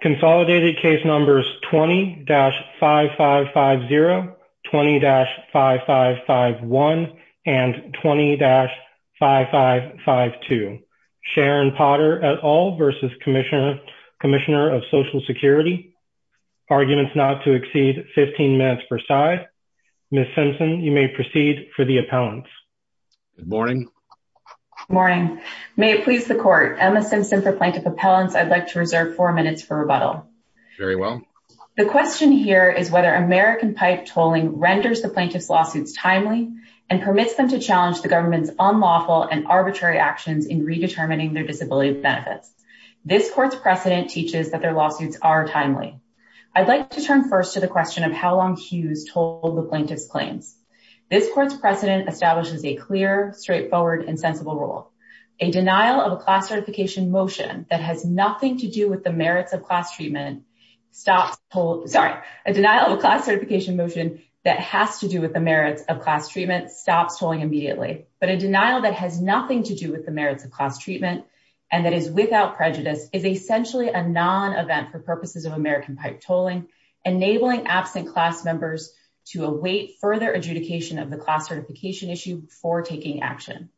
Consolidated case numbers 20-5550, 20-5551, and 20-5552. Sharon Potter et al. versus Commissioner of Social Security. Arguments not to exceed 15 minutes per side. Ms. Simpson, you may proceed for the appellants. Good morning. Morning. May it please the court. Emma Simpson for plaintiff appellants. I'd like to reserve four minutes for rebuttal. Very well. The question here is whether American pipe tolling renders the plaintiff's lawsuits timely and permits them to challenge the government's unlawful and arbitrary actions in redetermining their disability benefits. This court's precedent teaches that their lawsuits are timely. I'd like to turn first to the question of how long Hughes told the plaintiff's This court's precedent establishes a clear, straightforward, and sensible rule, a denial of a class certification motion that has nothing to do with the merits of class treatment, stops tolling, sorry, a denial of a class certification motion that has to do with the merits of class treatment stops tolling immediately. But a denial that has nothing to do with the merits of class treatment, and that is without prejudice, is essentially a non-event for purposes of American pipe tolling, enabling absent class members to await further adjudication of the class certification issue before taking action.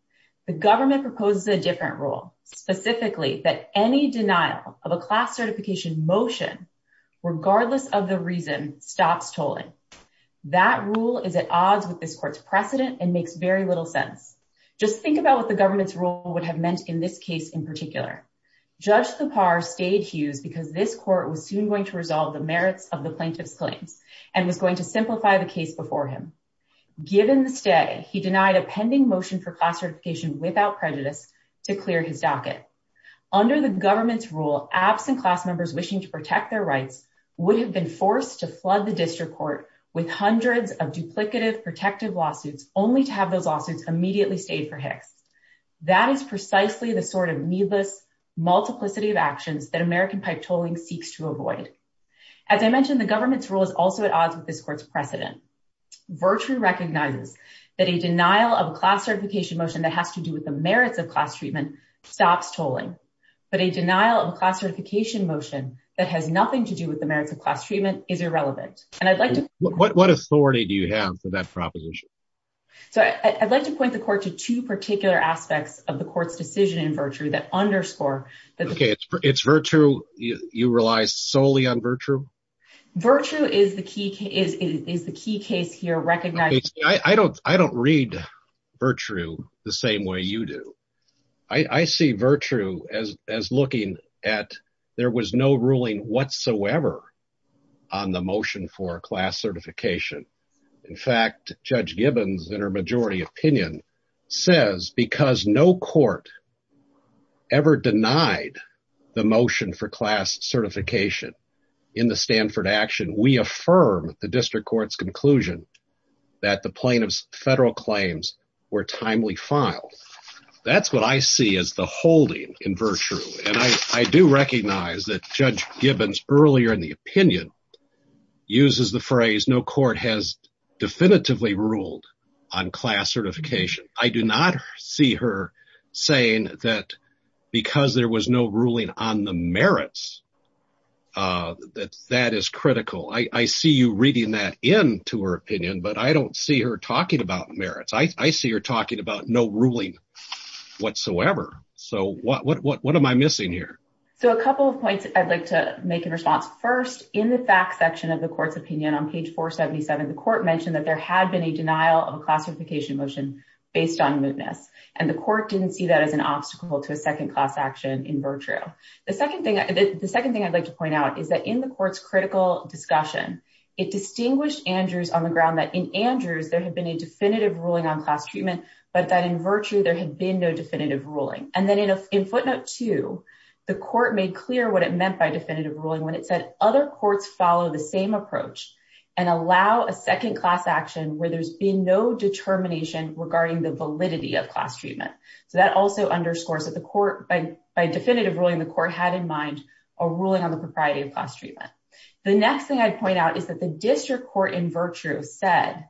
The government proposes a different rule, specifically that any denial of a class certification motion, regardless of the reason, stops tolling. That rule is at odds with this court's precedent and makes very little sense. Just think about what the government's rule would have meant in this case in particular. Judge Lepar stayed Hughes because this court was soon going to resolve the merits of the plaintiff's claims and was going to simplify the case before him. Given the stay, he denied a pending motion for class certification without prejudice to clear his docket. Under the government's rule, absent class members wishing to protect their rights would have been forced to flood the district court with hundreds of duplicative protective lawsuits, only to have those lawsuits immediately stayed for Hicks. That is precisely the sort of needless multiplicity of actions that American pipe tolling seeks to avoid. As I mentioned, the government's rule is also at odds with this court's precedent. Virtue recognizes that a denial of a class certification motion that has to do with the merits of class treatment stops tolling, but a denial of a class certification motion that has nothing to do with the merits of class treatment is irrelevant. And I'd like to what authority do you have for that proposition? So I'd like to point the court to two particular aspects of the court's decision in virtue that underscore that it's virtue. You rely solely on virtue. Virtue is the key is, is the key case here. Recognize I don't, I don't read virtue the same way you do. I see virtue as, as looking at, there was no ruling whatsoever on the motion for class certification. In fact, judge Gibbons in her majority opinion says because no court ever denied the motion for class certification in the Stanford action, we affirm the district court's conclusion that the plaintiff's federal claims were timely filed. That's what I see as the holding in virtue. And I do recognize that judge Gibbons earlier in the opinion uses the phrase, no court has definitively ruled on class certification. I do not see her saying that because there was no ruling on the merits that that is critical. I see you reading that into her opinion, but I don't see her talking about merits. I see her talking about no ruling whatsoever. So what, what, what, what am I missing here? So a couple of points I'd like to make in response first in the fact section of the court's opinion on page 477, the court mentioned that there had been a denial of classification motion based on mootness. And the court didn't see that as an obstacle to a second class action in virtue. The second thing, the second thing I'd like to point out is that in the court's critical discussion, it distinguished Andrews on the ground that in Andrews, there had been a definitive ruling on class treatment, but that in virtue, there had been no definitive ruling. And then in footnote two, the court made clear what it meant by definitive ruling when it said other courts follow the same approach and allow a second class action where there's been no determination regarding the validity of class treatment. So that also underscores that the court by, by definitive ruling, the court had in mind a ruling on the propriety of class treatment. The next thing I'd point out is that the district court in virtue said,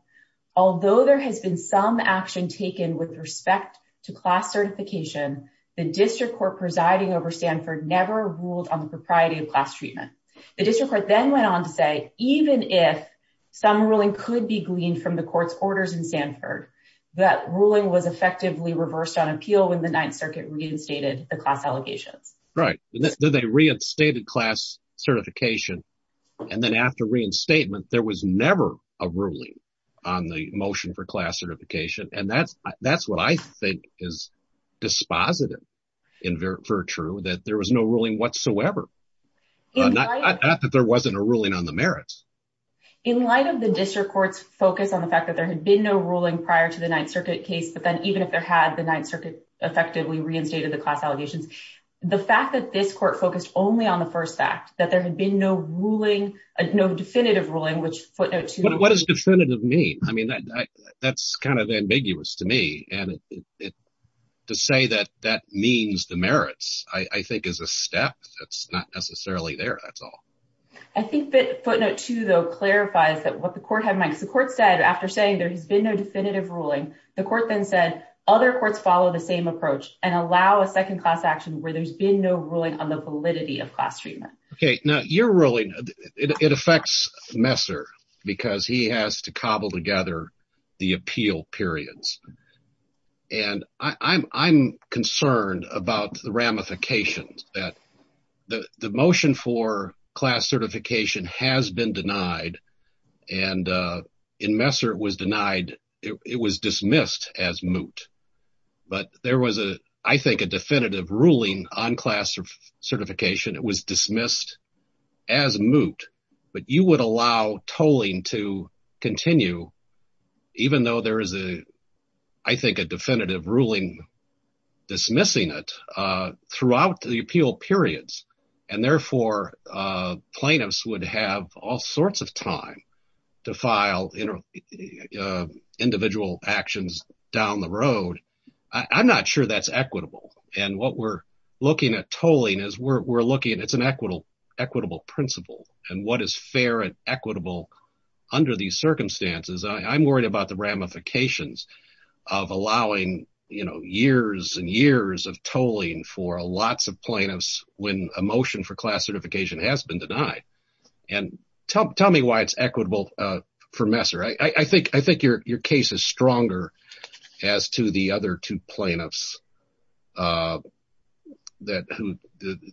although there has been some action taken with respect to class certification, the district court presiding over Stanford never ruled on the propriety of class treatment. The district court then went on to say, even if some ruling could be gleaned from the court's orders in Stanford, that ruling was effectively reversed on appeal when the ninth circuit reinstated the class allegations. Right. Then they reinstated class certification. And then after reinstatement, there was never a ruling on the motion for class certification. And that's, that's what I think is dispositive in virtue that there was no ruling whatsoever. Not that there wasn't a ruling on the merits. In light of the district court's focus on the fact that there had been no ruling prior to the ninth circuit case, but then even if there had the ninth circuit effectively reinstated the class allegations, the fact that this court focused only on the first fact that there had been no ruling, no definitive ruling, which footnote two. But what does definitive mean? I mean, that's kind of ambiguous to me. And to say that that means the merits, I think is a step that's not necessarily there. That's all. I think that footnote two though, clarifies that what the court had might support said after saying there has been no definitive ruling, the court then said other courts follow the same approach and allow a second class action where there's been no ruling on the validity of class treatment. Okay. Now you're ruling it affects Messer because he has to cobble together the appeal periods. And I'm concerned about the ramifications that the motion for class certification has been denied and in Messer it was denied, it was dismissed as moot, but there was a, I think a definitive ruling on class certification. It was dismissed as moot, but you would allow tolling to continue even though there is a, I think a definitive ruling dismissing it throughout the appeal periods and therefore plaintiffs would have all sorts of time to file individual actions down the road. I'm not sure that's equitable and what we're looking at tolling is we're looking at, it's an equitable principle and what is fair and equitable under these circumstances. I'm worried about the ramifications of allowing, you know, years and years of tolling for lots of plaintiffs when a motion for class certification has been denied and tell me why it's equitable for Messer. I think your case is stronger as to the other two plaintiffs that who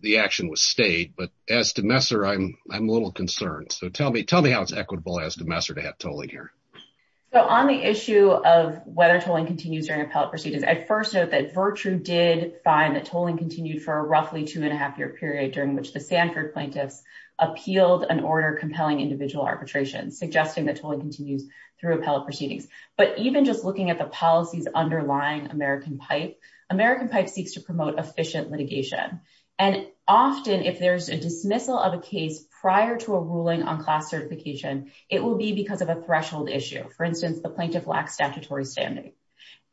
the action was stayed, but as to Messer, I'm a little concerned. So tell me how it's equitable as to Messer to have tolling here. So on the issue of whether tolling continues during appellate proceedings, I first note that Virtue did find that tolling continued for roughly two and a half year period during which the Sanford plaintiffs appealed an order compelling individual arbitration, suggesting that tolling continues through appellate proceedings. But even just looking at the policies underlying American pipe, American pipe seeks to promote efficient litigation. And often if there's a dismissal of a case prior to a ruling on class certification, it will be because of a threshold issue. For instance, the plaintiff lacks statutory standing.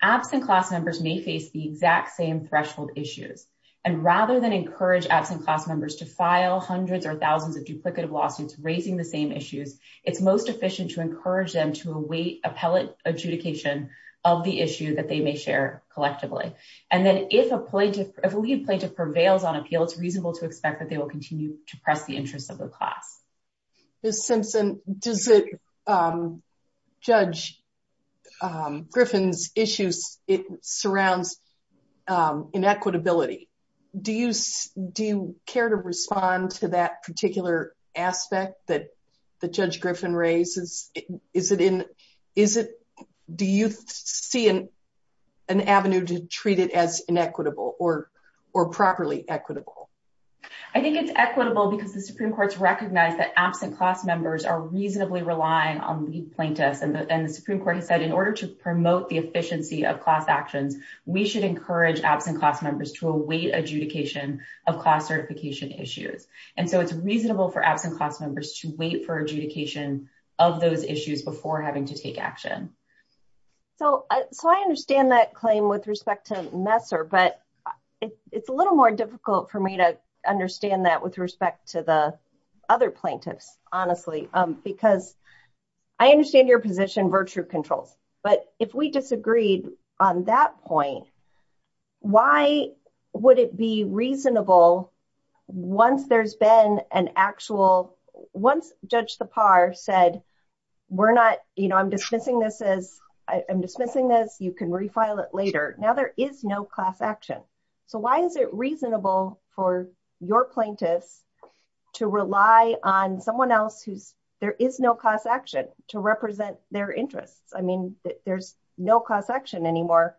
Absent class members may face the exact same threshold issues. And rather than encourage absent class members to file hundreds or thousands of duplicative lawsuits, raising the same issues, it's most efficient to encourage them to await appellate adjudication of the issue that they may share collectively. And then if a lead plaintiff prevails on appeal, it's reasonable to expect that they will continue to press the interests of the class. Ms. Simpson, does it, um, judge, um, Griffin's issues, it surrounds, um, inequitability. Do you, do you care to respond to that particular aspect that the judge Griffin raises, is it in, is it, do you see an, an avenue to treat it as inequitable or, or properly equitable? I think it's equitable because the Supreme Court's recognized that absent class members are reasonably relying on lead plaintiffs and the, and the Supreme Court has said in order to promote the efficiency of class actions, we should encourage absent class members to await adjudication of class certification issues. And so it's reasonable for absent class members to wait for adjudication of those issues before having to take action. So, so I understand that claim with respect to Messer, but it's a little more difficult for me to understand that with respect to the other plaintiffs, honestly, um, because I understand your position virtue controls, but if we disagreed on that point, why would it be reasonable once there's been an actual, once judge the par said, we're not, you know, I'm dismissing this as I am dismissing this, you can refile it later. Now there is no class action. So why is it reasonable for your plaintiffs to rely on someone else? Who's there is no cost action to represent their interests. I mean, there's no cost action anymore.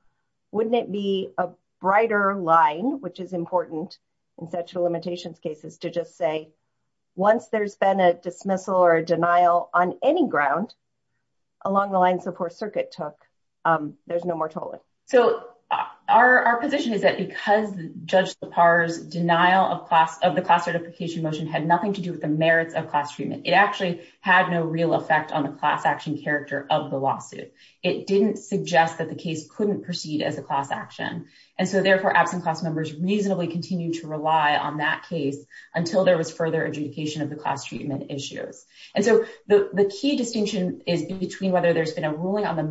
Wouldn't it be a brighter line, which is important in sexual limitations cases to just say, once there's been a dismissal or a denial on any ground. Along the lines of poor circuit took, um, there's no more tolling. So our, our position is that because judge the pars denial of class of the class certification motion had nothing to do with the merits of class treatment. It actually had no real effect on the class action character of the lawsuit. It didn't suggest that the case couldn't proceed as a class action. And so therefore absent class members reasonably continue to rely on that case until there was further adjudication of the class treatment issues. And so the key distinction is between whether there's been a ruling on the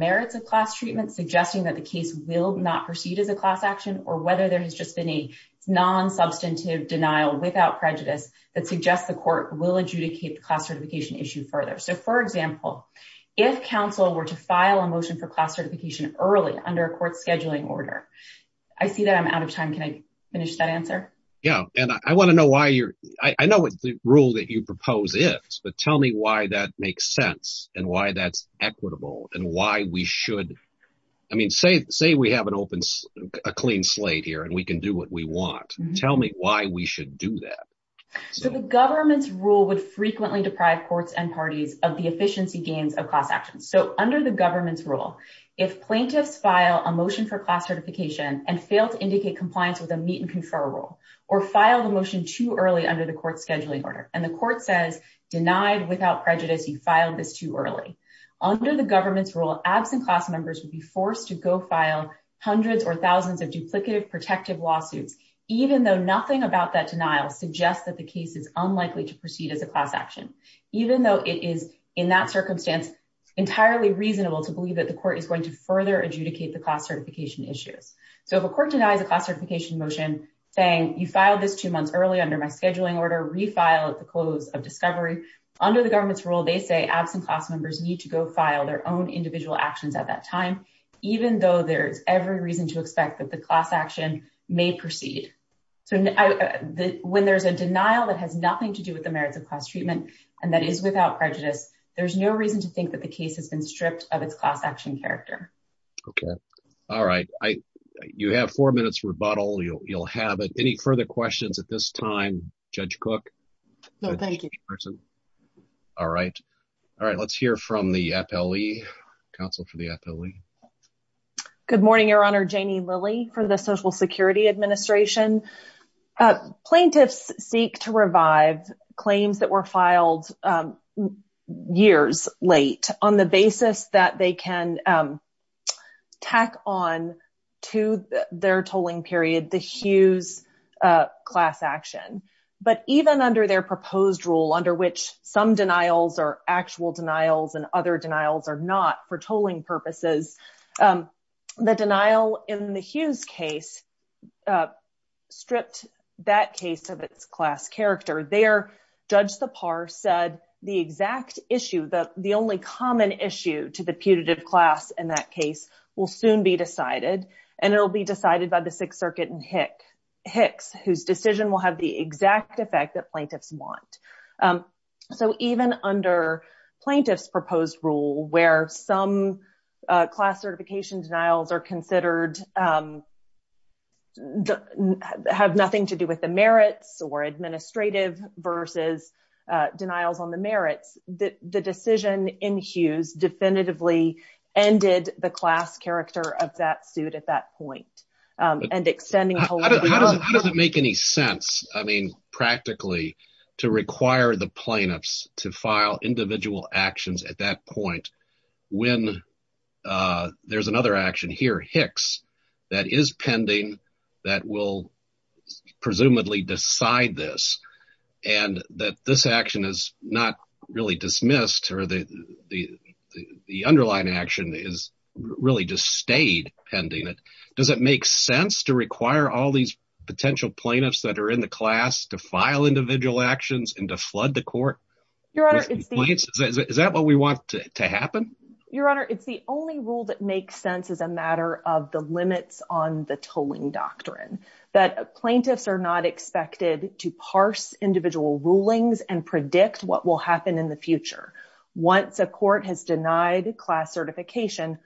will not proceed as a class action, or whether there has just been a non substantive denial without prejudice that suggests the court will adjudicate the class certification issue further. So for example, if counsel were to file a motion for class certification early under a court scheduling order, I see that I'm out of time. Can I finish that answer? Yeah. And I want to know why you're, I know what the rule that you propose is, but tell me why that makes sense and why that's equitable and why we should. I mean, say, say we have an open, a clean slate here and we can do what we want. Tell me why we should do that. So the government's rule would frequently deprive courts and parties of the efficiency gains of class actions. So under the government's rule, if plaintiffs file a motion for class certification and fail to indicate compliance with a meet and confer rule, or file the motion too early under the court scheduling order, and the court says denied without prejudice, you filed this too early under the government's rule, absent class members would be forced to go file hundreds or thousands of duplicative protective lawsuits. Even though nothing about that denial suggests that the case is unlikely to proceed as a class action, even though it is in that circumstance. Entirely reasonable to believe that the court is going to further adjudicate the class certification issues. So if a court denies a class certification motion saying you filed this two months early under my scheduling order, refile at the close of discovery under the government's rule, they say absent class members need to go file their own individual actions at that time, even though there's every reason to expect that the class action may proceed. So when there's a denial that has nothing to do with the merits of class treatment, and that is without prejudice, there's no reason to think that the case has been stripped of its class action character. Okay. All right. I, you have four minutes rebuttal. You'll, you'll have it. Any further questions at this time, Judge Cook? No, thank you. All right. All right. Let's hear from the FLE, counsel for the FLE. Good morning, Your Honor. Janie Lilly for the Social Security Administration. Plaintiffs seek to revive claims that were filed years late on the basis that they can tack on to their tolling period, the Hughes class action, but even under their proposed rule, under which some denials are actual denials and other denials are not for tolling purposes. The denial in the Hughes case stripped that case of its class character. There, Judge Sipar said the exact issue, the only common issue to the putative class in that case will soon be decided. And it will be decided by the Sixth Circuit and Hicks, whose decision will have the exact effect that plaintiffs want. So even under plaintiff's proposed rule, where some class certification denials are considered, have nothing to do with the merits or administrative versus denials on the merits, the decision in Hughes definitively ended the class character of that suit at that point. How does it make any sense, I mean, practically to require the plaintiffs to file individual actions at that point when there's another action here, Hicks, that is pending that will presumably decide this and that this action is not really dismissed or the underlying action is really just stayed pending? Does it make sense to require all these potential plaintiffs that are in the class to file individual actions and to flood the court? Your Honor, it's the- Is that what we want to happen? Your Honor, it's the only rule that makes sense as a matter of the limits on the tolling doctrine. That plaintiffs are not expected to parse individual rulings and predict what will happen in the future. Once a court has denied class certification,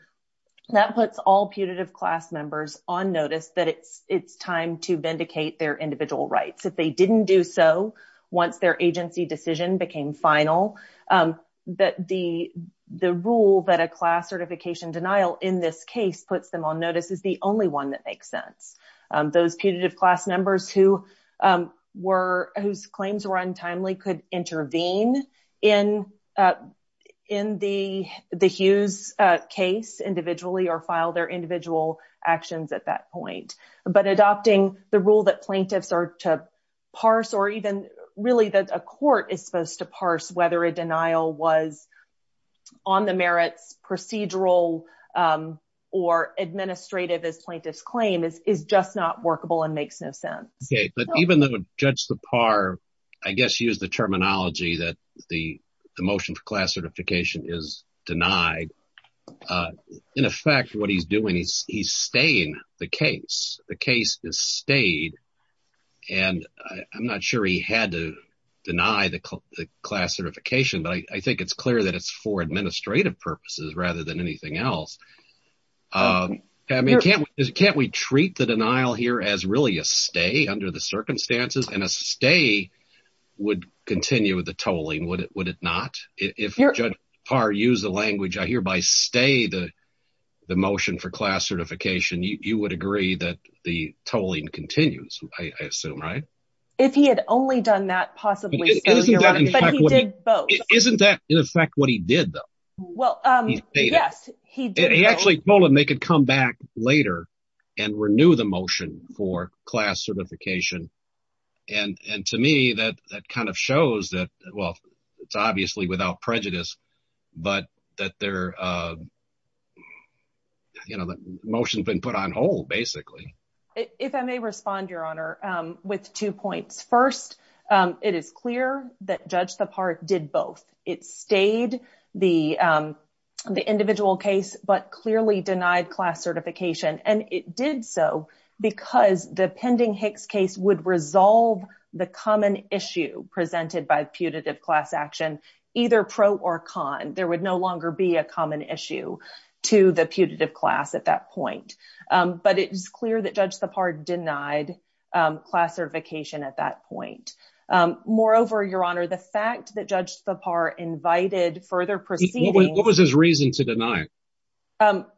that puts all putative class members on notice that it's time to vindicate their individual rights. If they didn't do so, once their agency decision became final, that the rule that a class certification denial in this case puts them on notice is the only one that makes sense. Those putative class members whose claims were untimely could intervene in the Hughes case individually or file their individual actions at that point. Adopting the rule that plaintiffs are to parse or even really that a court is supposed to parse whether a denial was on the merits procedural or administrative as plaintiff's claim is just not workable and makes no sense. But even though Judge Sipar, I guess, used the terminology that the motion for class certification is denied, in effect, what he's doing is he's staying the case, the case is stayed and I'm not sure he had to deny the class certification, but I think it's clear that it's for administrative purposes rather than anything else. I mean, can't we treat the denial here as really a stay under the circumstances and a stay would continue with the tolling, would it not? If Judge Sipar used the language, I hear by stay the motion for class certification, you would agree that the tolling continues, I assume, right? If he had only done that, possibly. Isn't that in effect what he did though? Well, yes, he did. He actually told them they could come back later and renew the motion for class certification and to me that kind of shows that, well, it's obviously without prejudice, but that their, you know, the motion's been put on hold basically. If I may respond, Your Honor, with two points. First, it is clear that Judge Sipar did both. It stayed the individual case, but clearly denied class certification and it did so because the pending Hicks case would resolve the common issue presented by putative class action, either pro or con. There would no longer be a common issue to the putative class at that point, but it is clear that Judge Sipar denied class certification at that point. Moreover, Your Honor, the fact that Judge Sipar invited further proceedings. What was his reason to deny?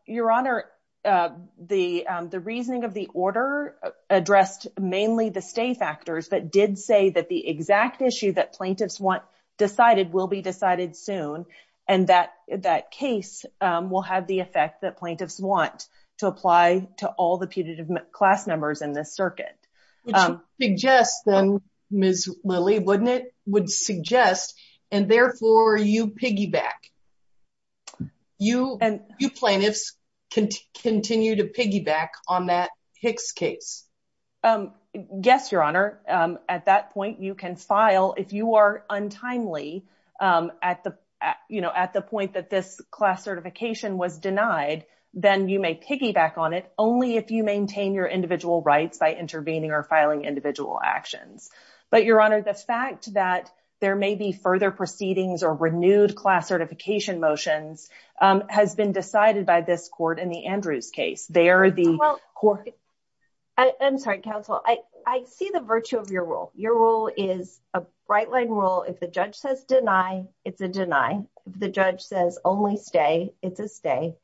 Your Honor, the reasoning of the order addressed mainly the stay factors, but did say that the exact issue that plaintiffs want decided will be decided soon and that case will have the effect that plaintiffs want to apply to all the putative class numbers in this circuit. Suggest then, Ms. Lilly, wouldn't it? Would suggest and therefore you piggyback. You and you plaintiffs continue to piggyback on that Hicks case. Yes, Your Honor. At that point, you can file if you are untimely at the, you know, at the point that this class certification was denied, then you may piggyback on it only if you maintain your individual rights by intervening or filing individual actions. But Your Honor, the fact that there may be further proceedings or renewed class certification motions has been decided by this court in the Andrews case. They are the court. I'm sorry, counsel. I see the virtue of your rule. Your rule is a bright line rule. If the judge says deny, it's a deny. The judge says only stay. It's a stay.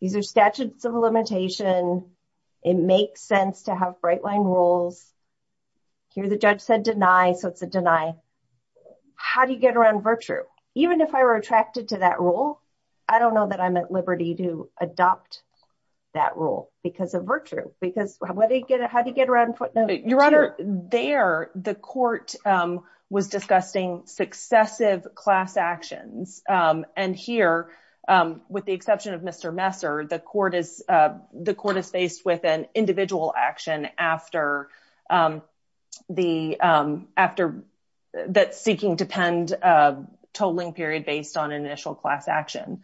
These are statutes of limitation. It makes sense to have bright line rules. Here the judge said deny. So it's a deny. How do you get around virtue? Even if I were attracted to that rule, I don't know that I'm at Liberty to adopt that rule because of virtue. Because how do you get around? Your Honor, there the court was discussing successive class actions. And here, with the exception of Mr. Messer, the court is the court is faced with an individual action after the after that seeking to pend totaling period based on initial class action.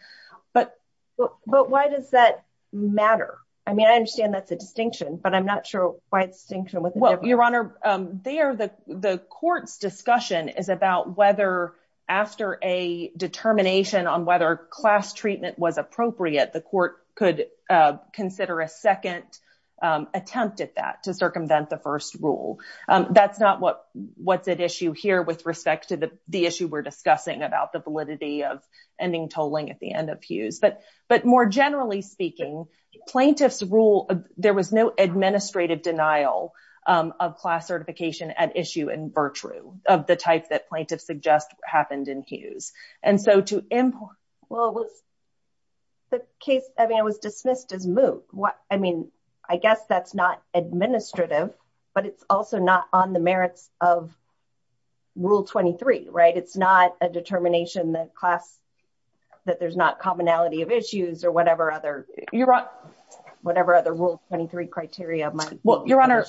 But why does that matter? I mean, I understand that's a distinction, but I'm not sure why it's synchronous. Well, Your Honor, there the court's discussion is about whether after a determination on whether class treatment was appropriate, the court could consider a second attempt at that to circumvent the first rule. That's not what's at issue here with respect to the issue we're discussing about the validity of ending tolling at the end of Hughes. But more generally speaking, plaintiff's rule, there was no administrative denial of class certification at issue in virtue of the type that plaintiff suggest happened in Hughes. And so to import. Well, it was the case. I mean, it was dismissed as moot. I mean, I guess that's not administrative, but it's also not on the merits of Rule 23, right? It's not a determination that class that there's not commonality of issues or whatever other, Your Honor, whatever other Rule 23 criteria. Well, Your Honor,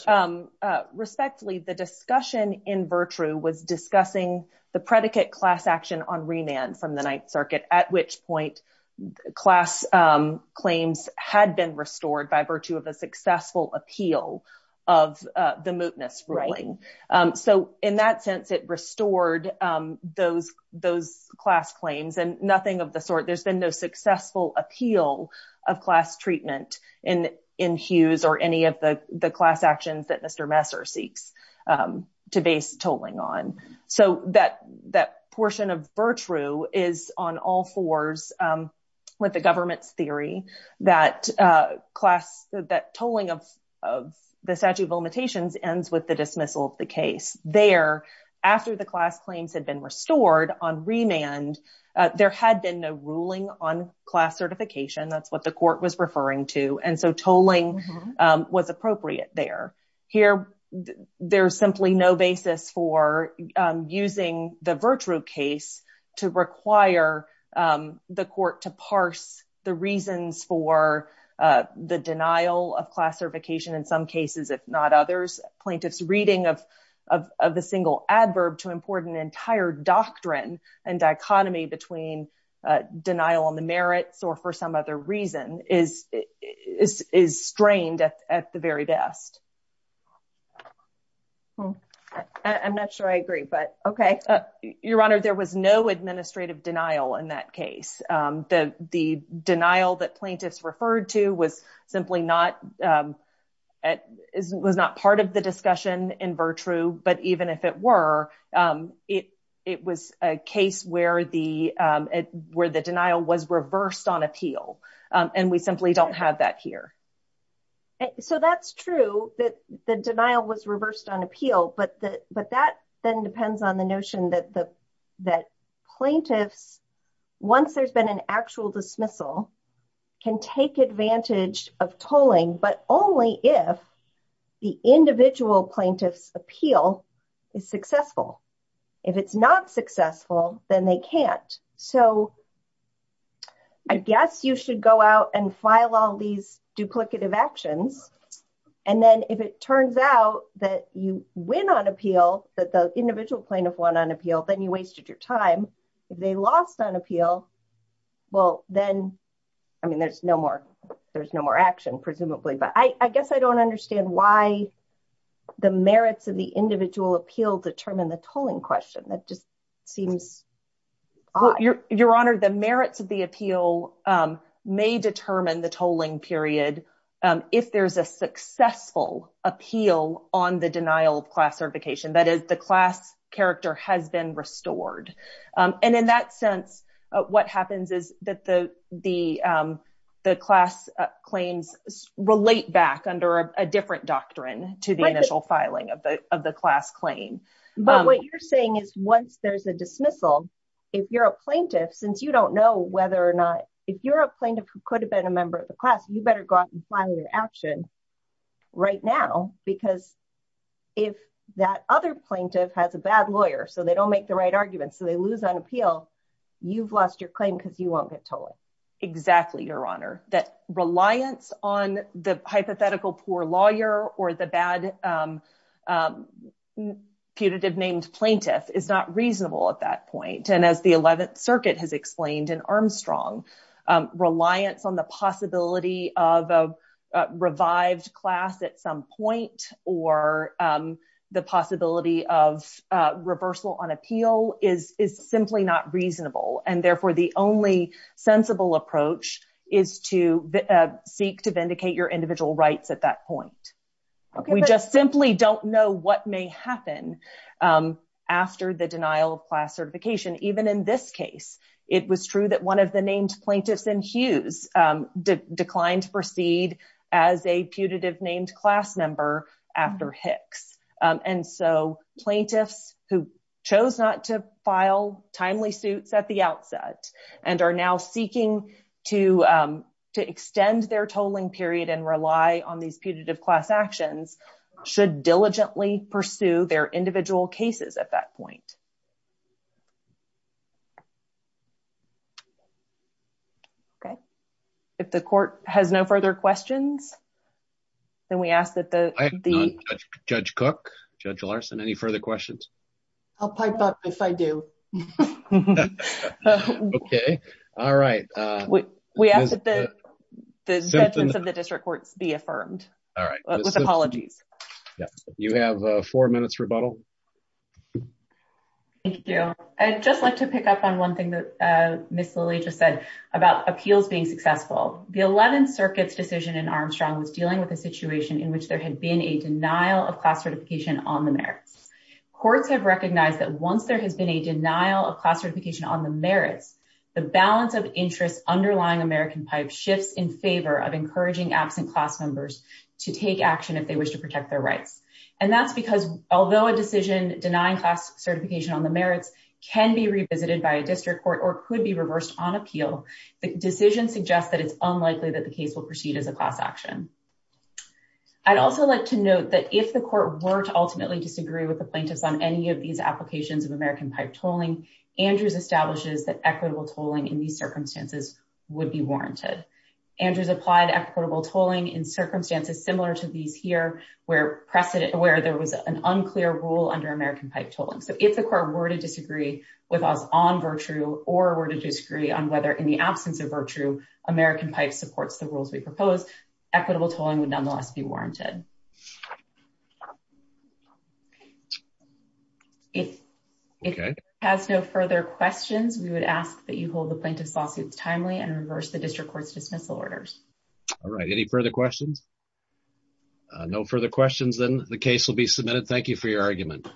respectfully, the discussion in virtue was discussing the predicate class action on remand from the Ninth Circuit, at which point class claims had been restored by virtue of a successful appeal of the mootness ruling. So in that sense, it restored those class claims and nothing of the sort. There's been no successful appeal of class treatment in Hughes or any of the class actions that Mr. Messer seeks to base tolling on. So that that portion of virtue is on all fours with the government's theory that class that tolling of the statute of limitations ends with the dismissal of the case there after the class claims had been restored on remand. There had been no ruling on class certification. That's what the court was referring to. And so tolling was appropriate there. Here, there's simply no basis for using the virtue case to require the court to parse the reasons for the denial of class certification. In some cases, if not others, plaintiff's reading of the single adverb to import an entire doctrine and dichotomy between denial on the merits or for some other reason is strained at the very best. I'm not sure I agree, but okay, your honor. There was no administrative denial in that case. The denial that plaintiffs referred to was simply not part of the discussion in virtue, but even if it were, it was a case where the denial was reversed on appeal and we simply don't have that here. So that's true that the denial was reversed on appeal, but that then depends on the notion that plaintiffs, once there's been an actual dismissal, can take advantage of tolling, but only if the individual plaintiff's appeal is successful. If it's not successful, then they can't. So I guess you should go out and file all these duplicative actions. And then if it turns out that you win on appeal, that the individual plaintiff won on appeal, then you wasted your time. If they lost on appeal, well then, I mean, there's no more action presumably, but I guess I don't understand why the merits of the individual appeal determine the tolling question. Your Honor, the merits of the appeal may determine the tolling period if there's a successful appeal on the denial of class certification, that is the class character has been restored. And in that sense, what happens is that the class claims relate back under a different doctrine to the initial filing of the class claim. But what you're saying is once there's a dismissal, if you're a plaintiff, since you don't know whether or not, if you're a plaintiff who could have been a member of the class, you better go out and file your action right now. Because if that other plaintiff has a bad lawyer, so they don't make the right argument, so they lose on appeal, you've lost your claim because you won't get tolled. Exactly, Your Honor. That reliance on the hypothetical poor lawyer or the bad putative named plaintiff is not reasonable at that point. And as the 11th Circuit has explained in Armstrong, reliance on the possibility of a revived class at some point or the possibility of reversal on appeal is simply not reasonable. And therefore, the only sensible approach is to seek to vindicate your individual rights at that point. We just simply don't know what may happen after the denial of class certification. Even in this case, it was true that one of the named plaintiffs in Hughes declined to proceed as a putative named class member after Hicks. And so plaintiffs who chose not to file timely suits at the outset and are seeking to extend their tolling period and rely on these putative class actions should diligently pursue their individual cases at that point. If the court has no further questions, then we ask that the judge Cook, Judge Larson, any further questions? I'll pipe up if I do. Okay, all right. We ask that the judgment of the district courts be affirmed with apologies. You have four minutes rebuttal. Thank you. I'd just like to pick up on one thing that Ms. Lillie just said about appeals being successful. The 11th Circuit's decision in Armstrong was dealing with a situation in which there had been a denial of class certification on the merits. Courts have recognized that once there has been a denial of class certification on the merits, the balance of interest underlying American Pipe shifts in favor of encouraging absent class members to take action if they wish to protect their rights. And that's because although a decision denying class certification on the merits can be revisited by a district court or could be reversed on appeal, the decision suggests that it's unlikely that the case will proceed as a class action. I'd also like to note that if the court were to ultimately disagree with the plaintiffs on any of these applications of American Pipe tolling, Andrews establishes that equitable tolling in these circumstances would be warranted. Andrews applied equitable tolling in circumstances similar to these here where there was an unclear rule under American Pipe tolling. So if the court were to disagree with us on virtue or were to disagree on whether in the absence of virtue American Pipe supports the rules we propose, equitable tolling would nonetheless be warranted. If it has no further questions, we would ask that you hold the plaintiff's lawsuits timely and reverse the district court's dismissal orders. All right, any further questions? No further questions, then the case will be submitted. Thank you for your argument.